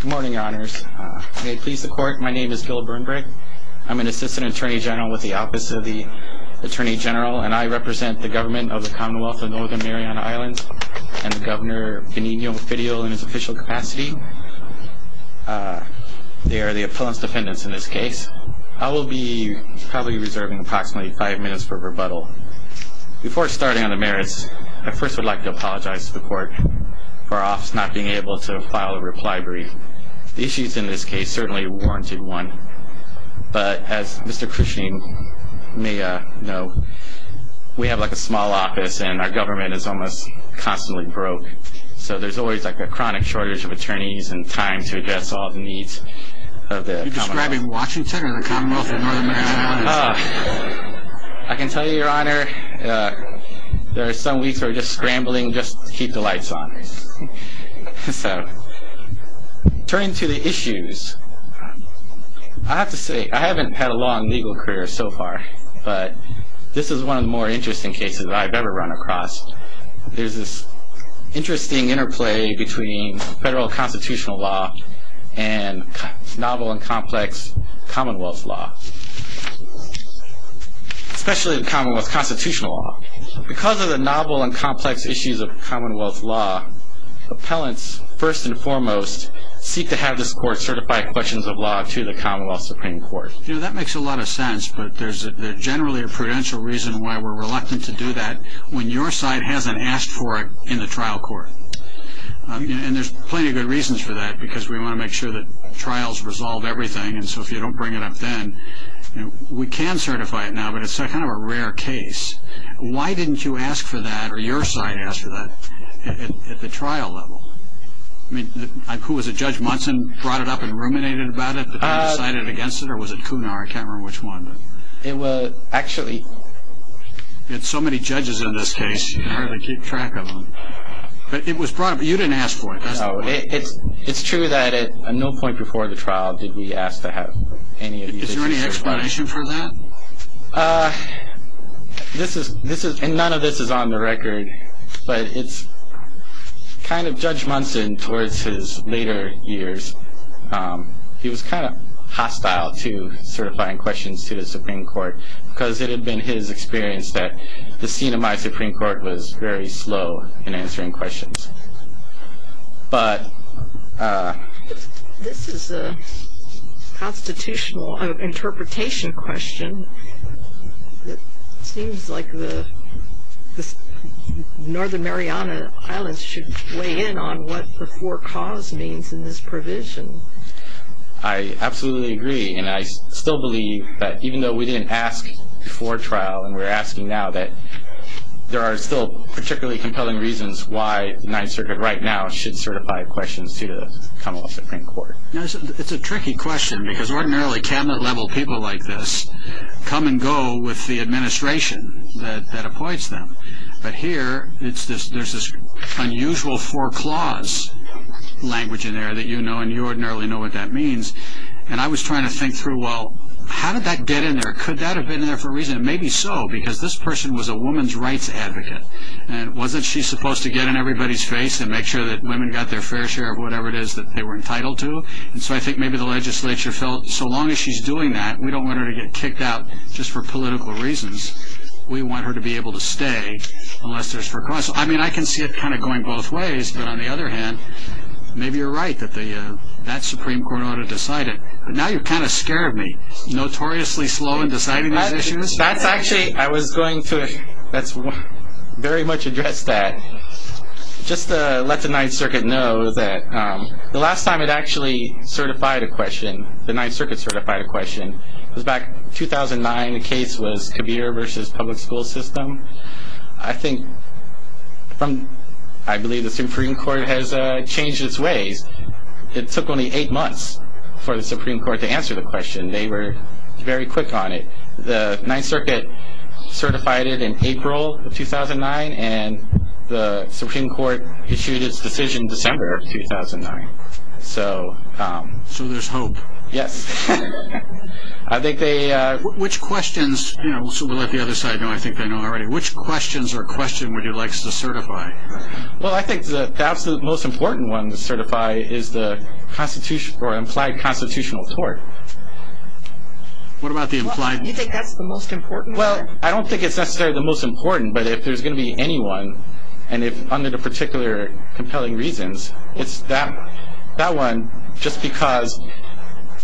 Good morning, Your Honors. May it please the Court, my name is Gil Burnbrake. I'm an Assistant Attorney General with the Office of the Attorney General, and I represent the Government of the Commonwealth of Northern Mariana Islands and Governor Benigno Fidele in his official capacity. They are the opponents' defendants in this case. I will be probably reserving approximately five minutes for rebuttal. Before starting on the merits, I first would like to apologize to the Court for our office not being able to file a reply brief. The issues in this case certainly warranted one. But as Mr. Cushing may know, we have a small office and our government is almost constantly broke, so there's always a chronic shortage of attorneys and time to address all the needs of the Commonwealth. Are you describing Washington or the Commonwealth of Northern Mariana Islands? I can tell you, Your Honor, there are some weeks where we're just scrambling just to keep the lights on. So, turning to the issues, I have to say I haven't had a long legal career so far, but this is one of the more interesting cases I've ever run across. There's this interesting interplay between federal constitutional law and novel and complex commonwealth law, especially the commonwealth constitutional law. Because of the novel and complex issues of commonwealth law, appellants, first and foremost, seek to have this Court certify questions of law to the Commonwealth Supreme Court. That makes a lot of sense, but there's generally a prudential reason why we're reluctant to do that. When your side hasn't asked for it in the trial court, and there's plenty of good reasons for that because we want to make sure that trials resolve everything, and so if you don't bring it up then, we can certify it now, but it's kind of a rare case. Why didn't you ask for that or your side ask for that at the trial level? I mean, who was it? Judge Munson brought it up and ruminated about it, but they decided against it, or was it Cunard? I can't remember which one. It was actually... You had so many judges in this case, you can hardly keep track of them. But it was brought up, but you didn't ask for it. No, it's true that at no point before the trial did we ask to have any of these issues certified. Is there any explanation for that? None of this is on the record, but it's kind of Judge Munson towards his later years, he was kind of hostile to certifying questions to the Supreme Court because it had been his experience that the scene of my Supreme Court was very slow in answering questions. But... This is a constitutional interpretation question. It seems like the Northern Mariana Islands should weigh in on what before cause means in this provision. I absolutely agree, and I still believe that even though we didn't ask before trial, and we're asking now, that there are still particularly compelling reasons why the Ninth Circuit right now should certify questions to the Commonwealth Supreme Court. It's a tricky question, because ordinarily cabinet-level people like this come and go with the administration that appoints them. But here, there's this unusual foreclause language in there that you know, and you ordinarily know what that means. And I was trying to think through, well, how did that get in there? Could that have been there for a reason? Maybe so, because this person was a woman's rights advocate. And wasn't she supposed to get in everybody's face and make sure that women got their fair share of whatever it is that they were entitled to? And so I think maybe the legislature felt, so long as she's doing that, we don't want her to get kicked out just for political reasons. We want her to be able to stay, unless there's foreclause. I mean, I can see it kind of going both ways, but on the other hand, maybe you're right that that Supreme Court ought to decide it. But now you've kind of scared me. Notoriously slow in deciding these issues. That's actually... I was going to very much address that. Just to let the Ninth Circuit know that the last time it actually certified a question, the Ninth Circuit certified a question, was back in 2009. The case was Kabir versus public school system. I think from, I believe the Supreme Court has changed its ways. It took only eight months for the Supreme Court to answer the question. They were very quick on it. The Ninth Circuit certified it in April of 2009, and the Supreme Court issued its decision December of 2009. So there's hope. Yes. I think they... Which questions, so we'll let the other side know. I think they know already. Which questions or question would you like us to certify? Well, I think the most important one to certify is the implied constitutional tort. What about the implied... You think that's the most important one? Well, I don't think it's necessarily the most important, but if there's going to be anyone, and if under the particular compelling reasons, it's that one just because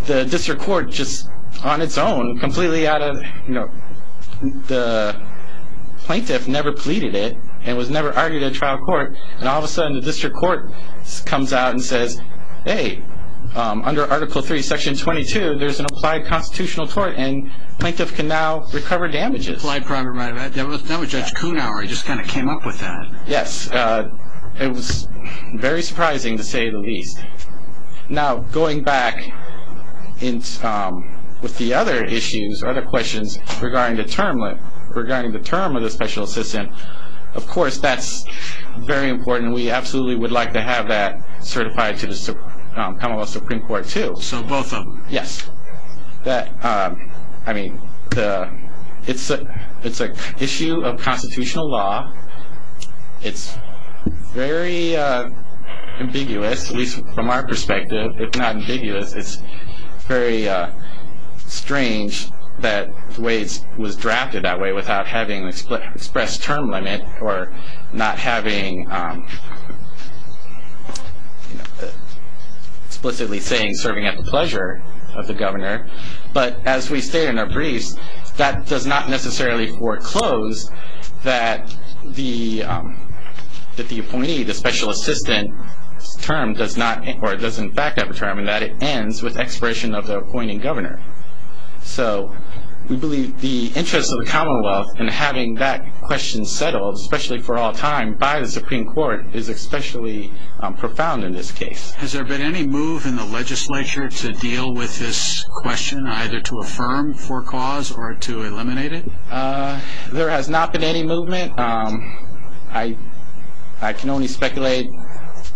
the district court just on its own, completely out of, you know, the plaintiff never pleaded it and was never argued at trial court, and all of a sudden the district court comes out and says, hey, under Article III, Section 22, there's an implied constitutional tort, and the plaintiff can now recover damages. That was Judge Kuhnhauer. He just kind of came up with that. Yes. It was very surprising, to say the least. Now, going back with the other issues, other questions, regarding the term of the special assistant, of course, that's very important. We absolutely would like to have that certified to the Commonwealth Supreme Court, too. So both of them? Yes. I mean, it's an issue of constitutional law. It's very ambiguous, at least from our perspective. It's not ambiguous. It's very strange that the way it was drafted that way, without having an expressed term limit or not having explicitly saying serving at the pleasure of the governor, but as we stated in our briefs, that does not necessarily foreclose that the appointee, the special assistant term does not, or does in fact have a term, and that it ends with expiration of the appointing governor. So we believe the interest of the Commonwealth in having that question settled, especially for all time, by the Supreme Court is especially profound in this case. Has there been any move in the legislature to deal with this question, either to affirm for cause or to eliminate it? There has not been any movement. I can only speculate.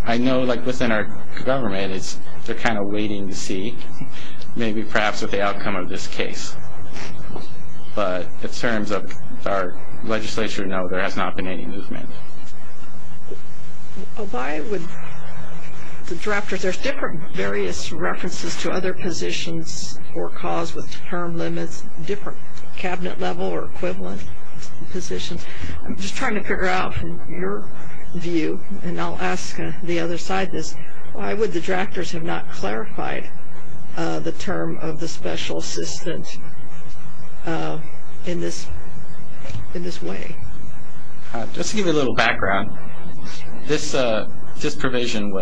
I know, like within our government, they're kind of waiting to see, maybe perhaps with the outcome of this case. But in terms of our legislature, no, there has not been any movement. Why would the drafters, there's different various references to other positions for cause with term limits, different cabinet level or equivalent positions. I'm just trying to figure out from your view, and I'll ask the other side this, why would the drafters have not clarified the term of the special assistant in this way? Just to give you a little background, this provision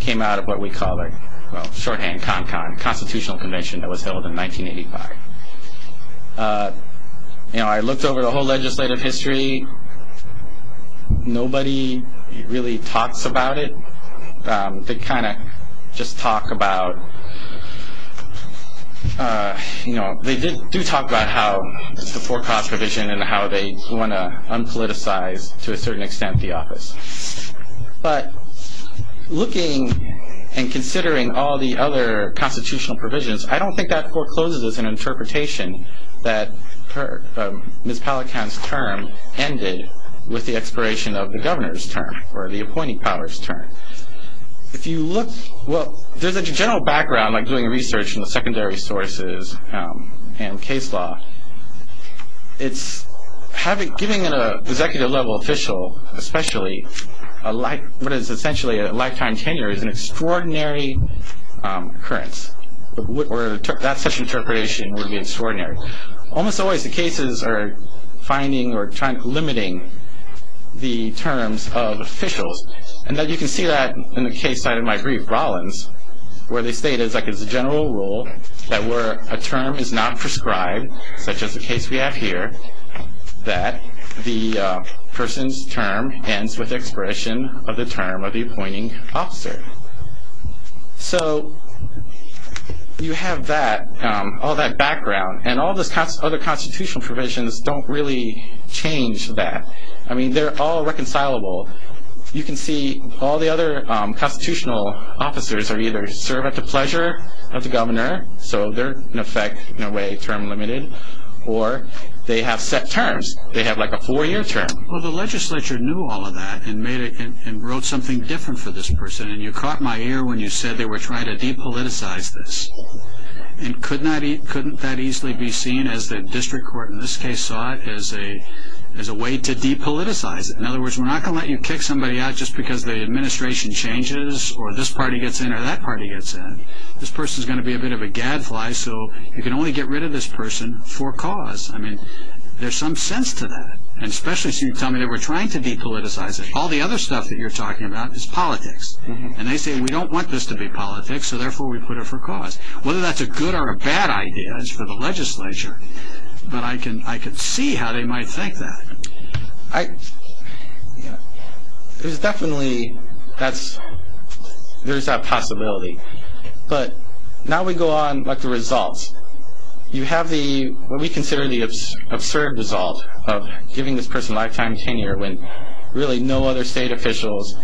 came out of what we call, well, shorthand, CONCON, Constitutional Convention that was held in 1985. I looked over the whole legislative history. Nobody really talks about it. They kind of just talk about, you know, they do talk about how it's a forecast provision and how they want to unpoliticize, to a certain extent, the office. But looking and considering all the other constitutional provisions, I don't think that forecloses an interpretation that Ms. Pallicant's term ended with the expiration of the governor's term or the appointing power's term. If you look, well, there's a general background, like doing research in the secondary sources and case law. It's giving an executive level official, especially what is essentially a lifetime tenure, is an extraordinary occurrence. That such interpretation would be extraordinary. Almost always the cases are finding or limiting the terms of officials. And you can see that in the case cited in my brief, Rollins, where they state, like it's a general rule that where a term is not prescribed, such as the case we have here, that the person's term ends with the expiration of the term of the appointing officer. So you have that, all that background. And all those other constitutional provisions don't really change that. I mean, they're all reconcilable. You can see all the other constitutional officers either serve at the pleasure of the governor, so they're in effect, in a way, term limited, or they have set terms. They have like a four-year term. Well, the legislature knew all of that and wrote something different for this person. And you caught my ear when you said they were trying to depoliticize this. And couldn't that easily be seen as the district court in this case saw it as a way to depoliticize it. In other words, we're not going to let you kick somebody out just because the administration changes or this party gets in or that party gets in. This person's going to be a bit of a gadfly, so you can only get rid of this person for cause. I mean, there's some sense to that. And especially since you tell me they were trying to depoliticize it. All the other stuff that you're talking about is politics. And they say we don't want this to be politics, so therefore we put it for cause. Whether that's a good or a bad idea is for the legislature. But I can see how they might think that. There's definitely that possibility. But now we go on to the results. You have what we consider the absurd result of giving this person lifetime tenure when really no other state officials,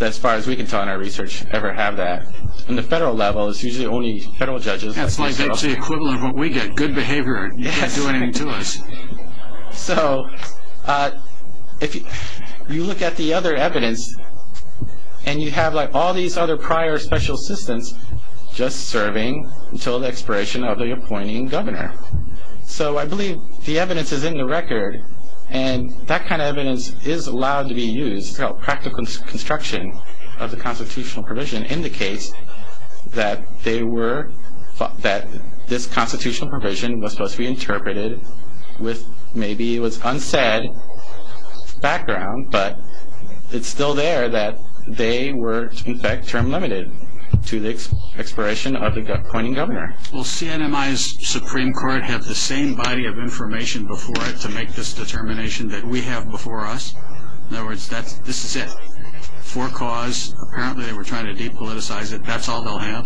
as far as we can tell in our research, ever have that. On the federal level, it's usually only federal judges. That's like the equivalent of what we get. Good behavior, you can't do anything to us. So if you look at the other evidence, and you have all these other prior special assistants just serving until the expiration of the appointing governor. So I believe the evidence is in the record, and that kind of evidence is allowed to be used. Practical construction of the constitutional provision indicates that this constitutional provision was supposed to be interpreted with maybe what's unsaid background, but it's still there that they were in fact term limited to the expiration of the appointing governor. Will CNMI's Supreme Court have the same body of information before it to make this determination that we have before us? In other words, this is it. For cause, apparently they were trying to depoliticize it. That's all they'll have?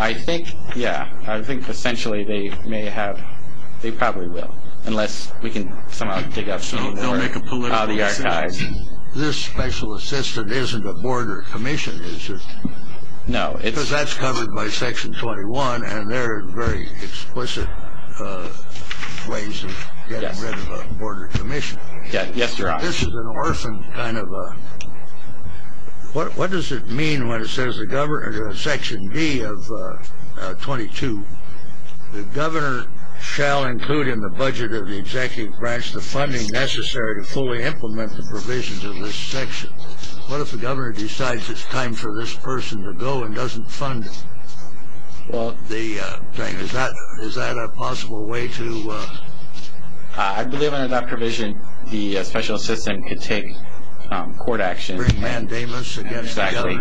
I think, yeah. I think essentially they probably will, unless we can somehow dig up the archives. So they'll make a political decision? This special assistant isn't a border commission, is it? No. Because that's covered by section 21, and there are very explicit ways of getting rid of a border commission. Yes, Your Honor. This is an orphan kind of a, what does it mean when it says section D of 22? The governor shall include in the budget of the executive branch the funding necessary to fully implement the provisions of this section. What if the governor decides it's time for this person to go and doesn't fund the thing? Is that a possible way to? I believe under that provision the special assistant could take court action. Bring mandamus against the governor? Exactly.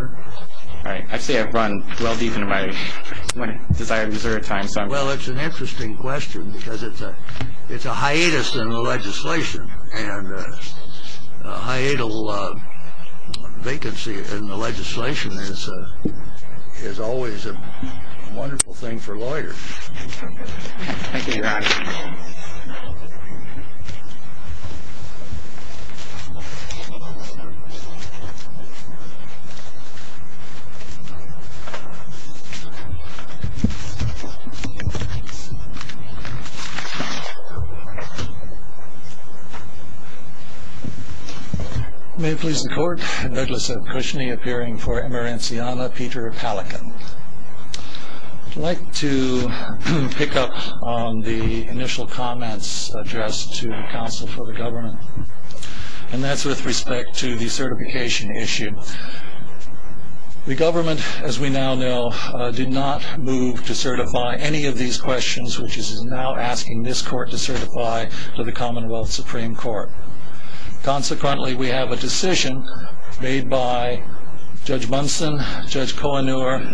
All right. Actually, I've run well deep into my desire to reserve time. Well, it's an interesting question because it's a hiatus in the legislation, and a hiatal vacancy in the legislation is always a wonderful thing for lawyers. Thank you, Your Honor. Thank you. May it please the court. Douglas Cushney appearing for Emerentiana. Peter Palachin. I'd like to pick up on the initial comments addressed to the council for the government, and that's with respect to the certification issue. The government, as we now know, did not move to certify any of these questions, which is now asking this court to certify to the Commonwealth Supreme Court. Consequently, we have a decision made by Judge Munson, Judge Kohenor,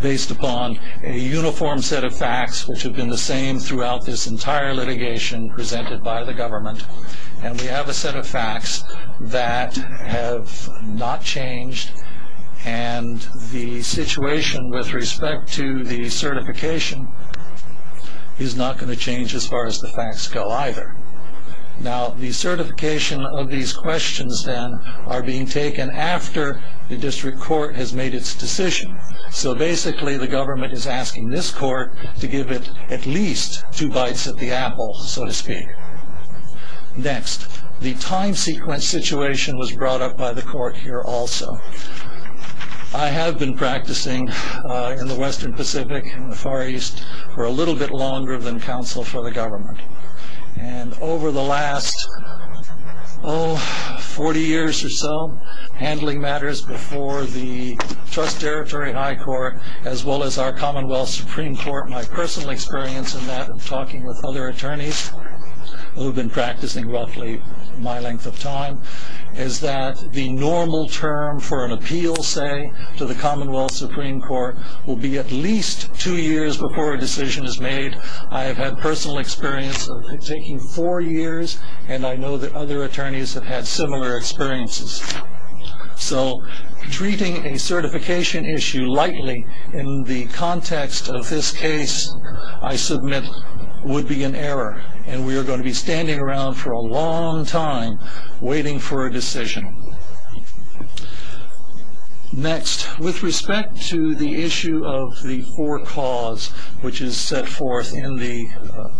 based upon a uniform set of facts which have been the same throughout this entire litigation presented by the government, and we have a set of facts that have not changed, and the situation with respect to the certification is not going to change as far as the facts go either. Now, the certification of these questions, then, are being taken after the district court has made its decision, so basically the government is asking this court to give it at least two bites at the apple, so to speak. Next, the time sequence situation was brought up by the court here also. I have been practicing in the Western Pacific and the Far East for a little bit longer than council for the government, and over the last, oh, 40 years or so, handling matters before the Trust Territory High Court, as well as our Commonwealth Supreme Court, my personal experience in that, and talking with other attorneys who have been practicing roughly my length of time, is that the normal term for an appeal, say, to the Commonwealth Supreme Court will be at least two years before a decision is made. I have had personal experience of taking four years, and I know that other attorneys have had similar experiences. So, treating a certification issue lightly in the context of this case, I submit, would be an error, and we are going to be standing around for a long time waiting for a decision. Next, with respect to the issue of the four cause, which is set forth in the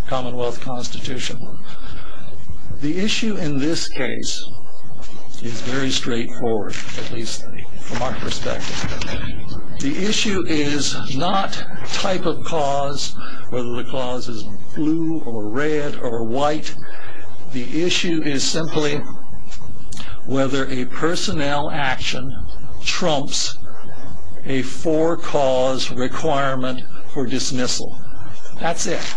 Commonwealth Constitution, the issue in this case is very straightforward, at least from our perspective. The issue is not type of cause, whether the cause is blue or red or white. The issue is simply whether a personnel action trumps a four cause requirement for dismissal. That's it.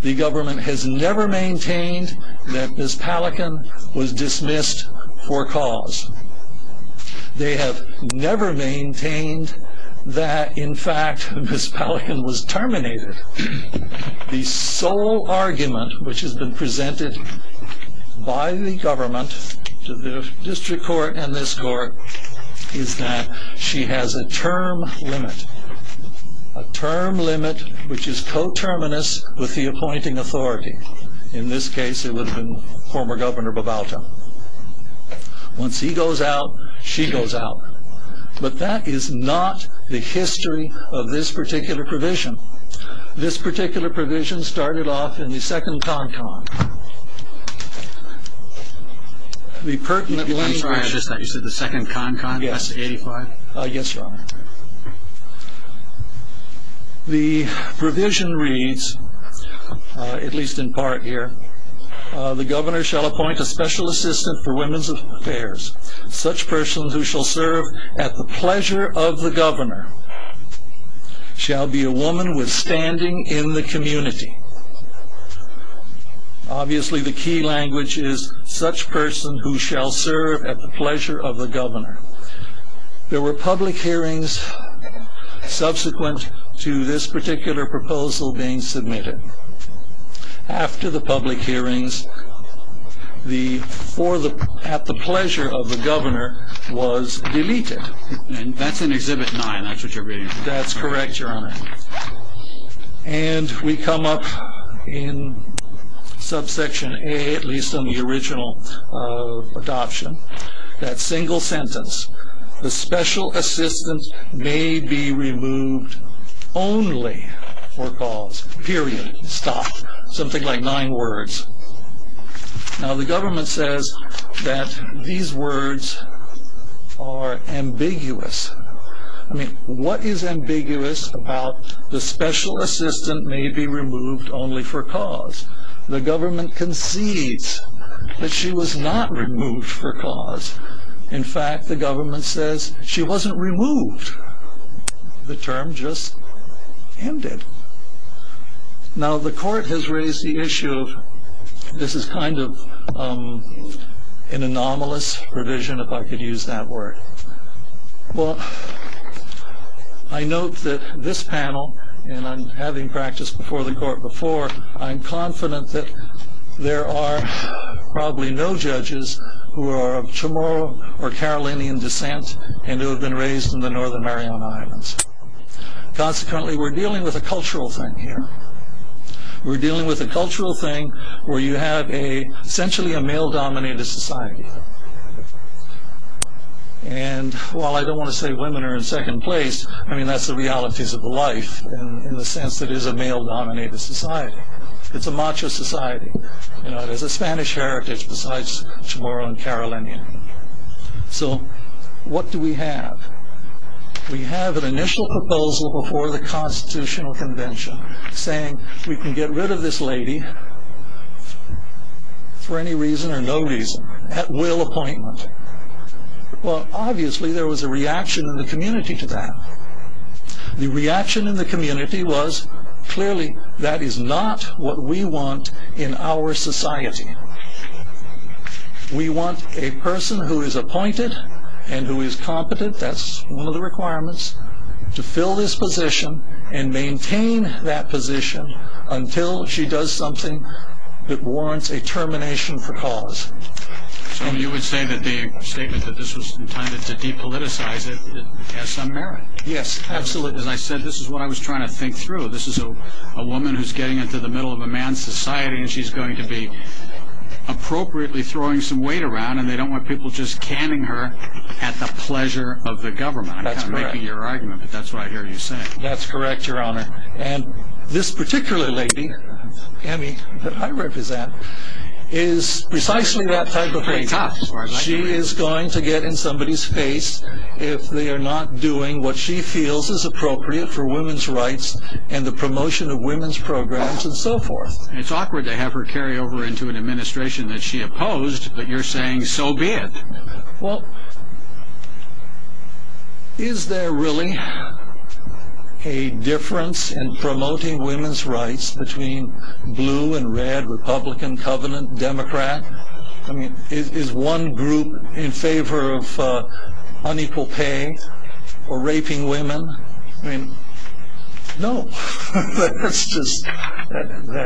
The government has never maintained that Ms. Pallican was dismissed for cause. They have never maintained that, in fact, Ms. Pallican was terminated. The sole argument which has been presented by the government to the district court and this court is that she has a term limit, a term limit which is coterminous with the appointing authority. In this case, it would have been former Governor Bovalta. Once he goes out, she goes out. But that is not the history of this particular provision. This particular provision started off in the second con con. The provision reads, at least in part here, the governor shall appoint a special assistant for women's affairs. Such person who shall serve at the pleasure of the governor shall be a woman with standing in the community. Obviously, the key language is such person who shall serve at the pleasure of the governor. There were public hearings subsequent to this particular proposal being submitted. After the public hearings, the, for the, at the pleasure of the governor was deleted. And that's in Exhibit 9, that's what you're reading. That's correct, Your Honor. And we come up in subsection A, at least on the original adoption, that single sentence, the special assistant may be removed only for cause. Period. Stop. Something like nine words. Now, the government says that these words are ambiguous. I mean, what is ambiguous about the special assistant may be removed only for cause? The government concedes that she was not removed for cause. In fact, the government says she wasn't removed. The term just ended. Now, the court has raised the issue of, this is kind of an anomalous provision, if I could use that word. Well, I note that this panel, and I'm having practice before the court before, I'm confident that there are probably no judges who are of Chamorro or Carolinian descent and who have been raised in the Northern Mariana Islands. Consequently, we're dealing with a cultural thing here. We're dealing with a cultural thing where you have essentially a male-dominated society. And while I don't want to say women are in second place, I mean, that's the realities of life in the sense that it is a male-dominated society. It's a macho society. There's a Spanish heritage besides Chamorro and Carolinian. So, what do we have? We have an initial proposal before the Constitutional Convention saying we can get rid of this lady for any reason or no reason, at will appointment. Well, obviously, there was a reaction in the community to that. The reaction in the community was, clearly, that is not what we want in our society. We want a person who is appointed and who is competent, that's one of the requirements, to fill this position and maintain that position until she does something that warrants a termination for cause. So, you would say that the statement that this was intended to depoliticize it has some merit. Yes, absolutely. As I said, this is what I was trying to think through. This is a woman who's getting into the middle of a man's society and she's going to be appropriately throwing some weight around and they don't want people just canning her at the pleasure of the government. I'm kind of making your argument, but that's what I hear you saying. That's correct, Your Honor. This particular lady, Emmy, that I represent, is precisely that type of lady. She is going to get in somebody's face if they are not doing what she feels is appropriate for women's rights and the promotion of women's programs and so forth. It's awkward to have her carry over into an administration that she opposed, but you're saying so be it. Well, is there really a difference in promoting women's rights between blue and red, Republican, Covenant, Democrat? Is one group in favor of unequal pay or raping women? No, that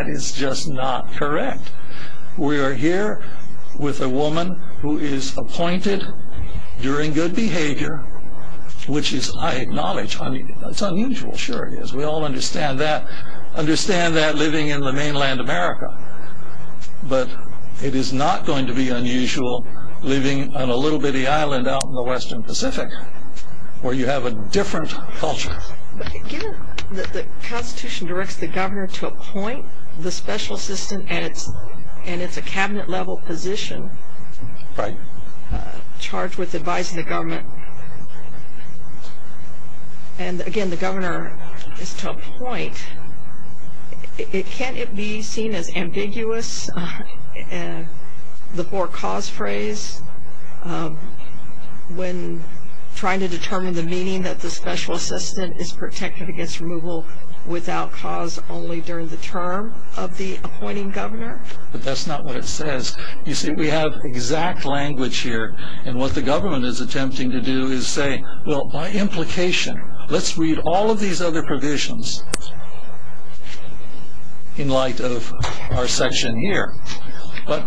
is just not correct. We are here with a woman who is appointed during good behavior, which is, I acknowledge, it's unusual, sure it is. We all understand that, understand that living in the mainland America, but it is not going to be unusual living on a little bitty island out in the western Pacific where you have a different culture. Given that the Constitution directs the governor to appoint the special assistant, and it's a cabinet-level position charged with advising the government, and again the governor is to appoint, can't it be seen as ambiguous, the for-cause phrase, when trying to determine the meaning that the special assistant is protected against removal without cause only during the term of the appointing governor? But that's not what it says. You see, we have exact language here, and what the government is attempting to do is say, well, by implication, let's read all of these other provisions in light of our section here. But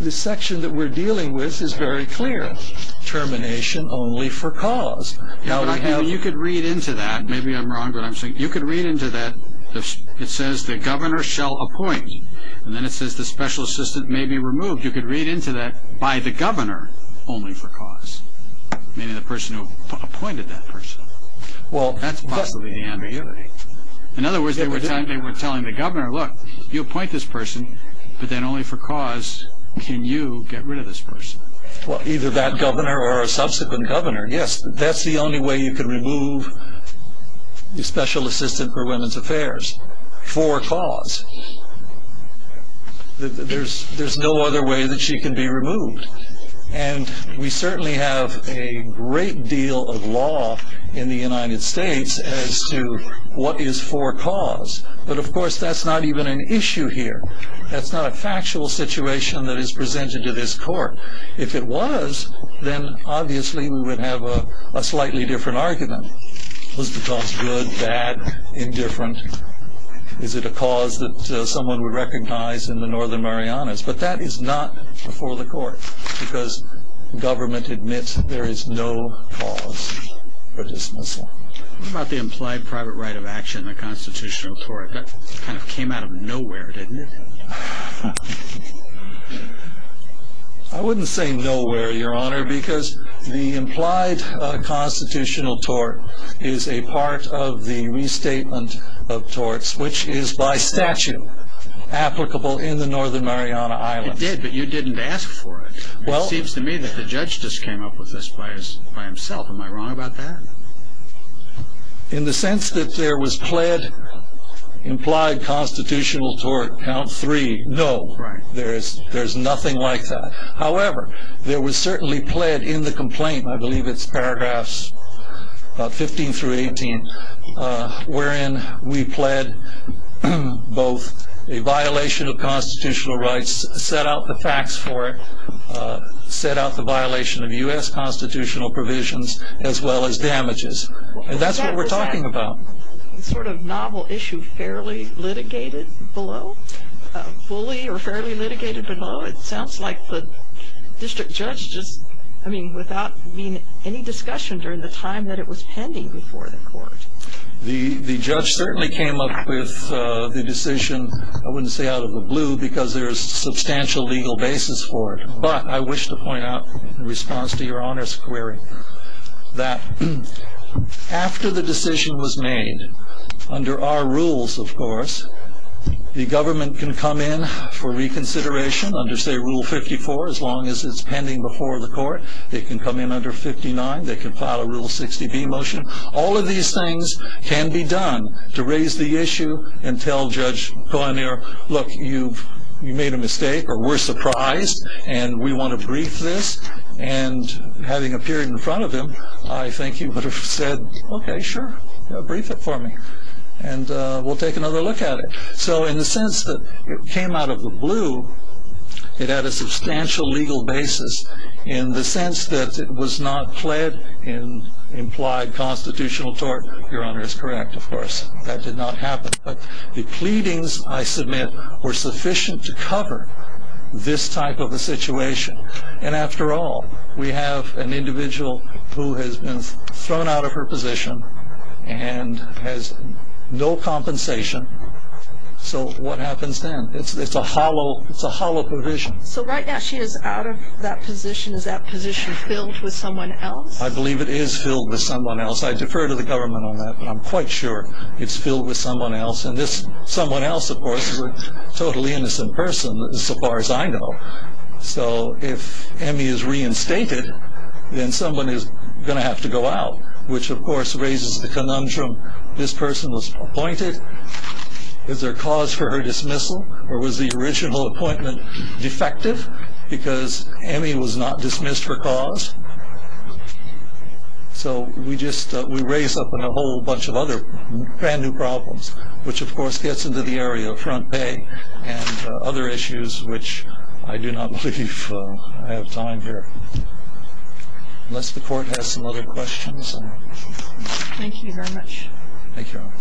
the section that we're dealing with is very clear, termination only for cause. You could read into that, maybe I'm wrong, but you could read into that, it says the governor shall appoint, and then it says the special assistant may be removed. You could read into that by the governor only for cause, meaning the person who appointed that person. That's possibly the ambiguity. In other words, they were telling the governor, look, you appoint this person, but then only for cause can you get rid of this person. Well, either that governor or a subsequent governor, yes, that's the only way you can remove the special assistant for women's affairs, for cause. There's no other way that she can be removed. And we certainly have a great deal of law in the United States as to what is for cause. But of course, that's not even an issue here. That's not a factual situation that is presented to this court. If it was, then obviously we would have a slightly different argument. Was the cause good, bad, indifferent? Is it a cause that someone would recognize in the Northern Marianas? But that is not before the court, because government admits there is no cause for dismissal. What about the implied private right of action in a constitutional tort? That kind of came out of nowhere, didn't it? I wouldn't say nowhere, Your Honor, because the implied constitutional tort is a part of the restatement of torts, which is by statute applicable in the Northern Mariana Islands. It did, but you didn't ask for it. It seems to me that the judge just came up with this by himself. Am I wrong about that? In the sense that there was pled implied constitutional tort, count three, no. There's nothing like that. However, there was certainly pled in the complaint, I believe it's paragraphs 15 through 18, wherein we pled both a violation of constitutional rights, set out the facts for it, set out the violation of U.S. constitutional provisions, as well as damages. That's what we're talking about. Sort of novel issue, fairly litigated below? Fully or fairly litigated below? It sounds like the district judge just, I mean, without any discussion during the time that it was pending before the court. The judge certainly came up with the decision, I wouldn't say out of the blue, because there's substantial legal basis for it. But I wish to point out, in response to Your Honor's query, that after the decision was made, under our rules, of course, the government can come in for reconsideration under, say, Rule 54, as long as it's pending before the court. They can come in under 59, they can file a Rule 60B motion. All of these things can be done to raise the issue and tell Judge Colanere, look, you made a mistake, or we're surprised, and we want to brief this. And having appeared in front of him, I think you would have said, okay, sure, brief it for me. And we'll take another look at it. So in the sense that it came out of the blue, it had a substantial legal basis. In the sense that it was not pled in implied constitutional tort, Your Honor is correct, of course, that did not happen. But the pleadings, I submit, were sufficient to cover this type of a situation. And after all, we have an individual who has been thrown out of her position and has no compensation. So what happens then? It's a hollow provision. So right now she is out of that position. Is that position filled with someone else? I believe it is filled with someone else. I defer to the government on that, but I'm quite sure it's filled with someone else. And this someone else, of course, is a totally innocent person, so far as I know. So if Emmy is reinstated, then someone is going to have to go out, which, of course, raises the conundrum. This person was appointed. Is there cause for her dismissal? Or was the original appointment defective because Emmy was not dismissed for cause? So we raise up a whole bunch of other brand new problems, which, of course, gets into the area of front pay and other issues which I do not believe I have time here. Unless the court has some other questions. Thank you very much. Thank you, Your Honor.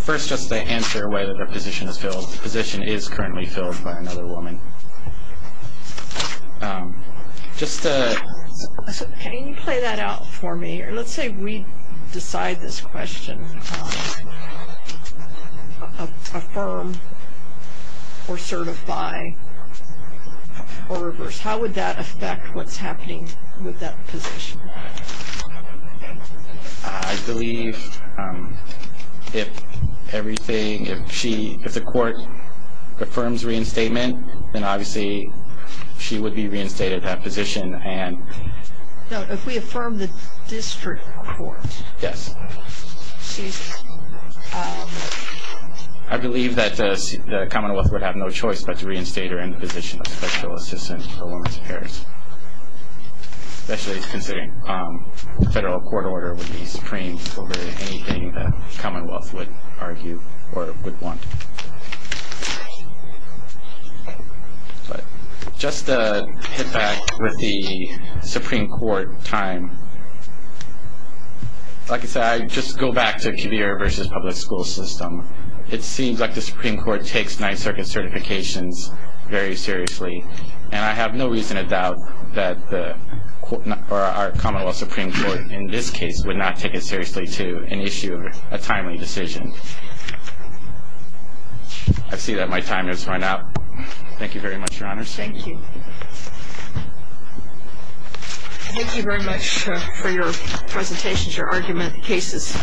First, just to answer whether her position is filled. The position is currently filled by another woman. Can you play that out for me? Let's say we decide this question. Affirm or certify or reverse. How would that affect what's happening with that position? I believe if the court affirms reinstatement, then obviously she would be reinstated at that position. No, if we affirm the district court. Yes. I believe that the Commonwealth would have no choice but to reinstate her in the position of Special Assistant for Women's Affairs. Especially considering the federal court order would be supreme over anything the Commonwealth would argue or would want. But just to hit back with the Supreme Court time. Like I said, I just go back to Kibir versus public school system. It seems like the Supreme Court takes Ninth Circuit certifications very seriously. And I have no reason to doubt that our Commonwealth Supreme Court in this case would not take it seriously to issue a timely decision. I see that my time has run out. Thank you very much, Your Honor. Thank you. Thank you very much for your presentations, your argument cases.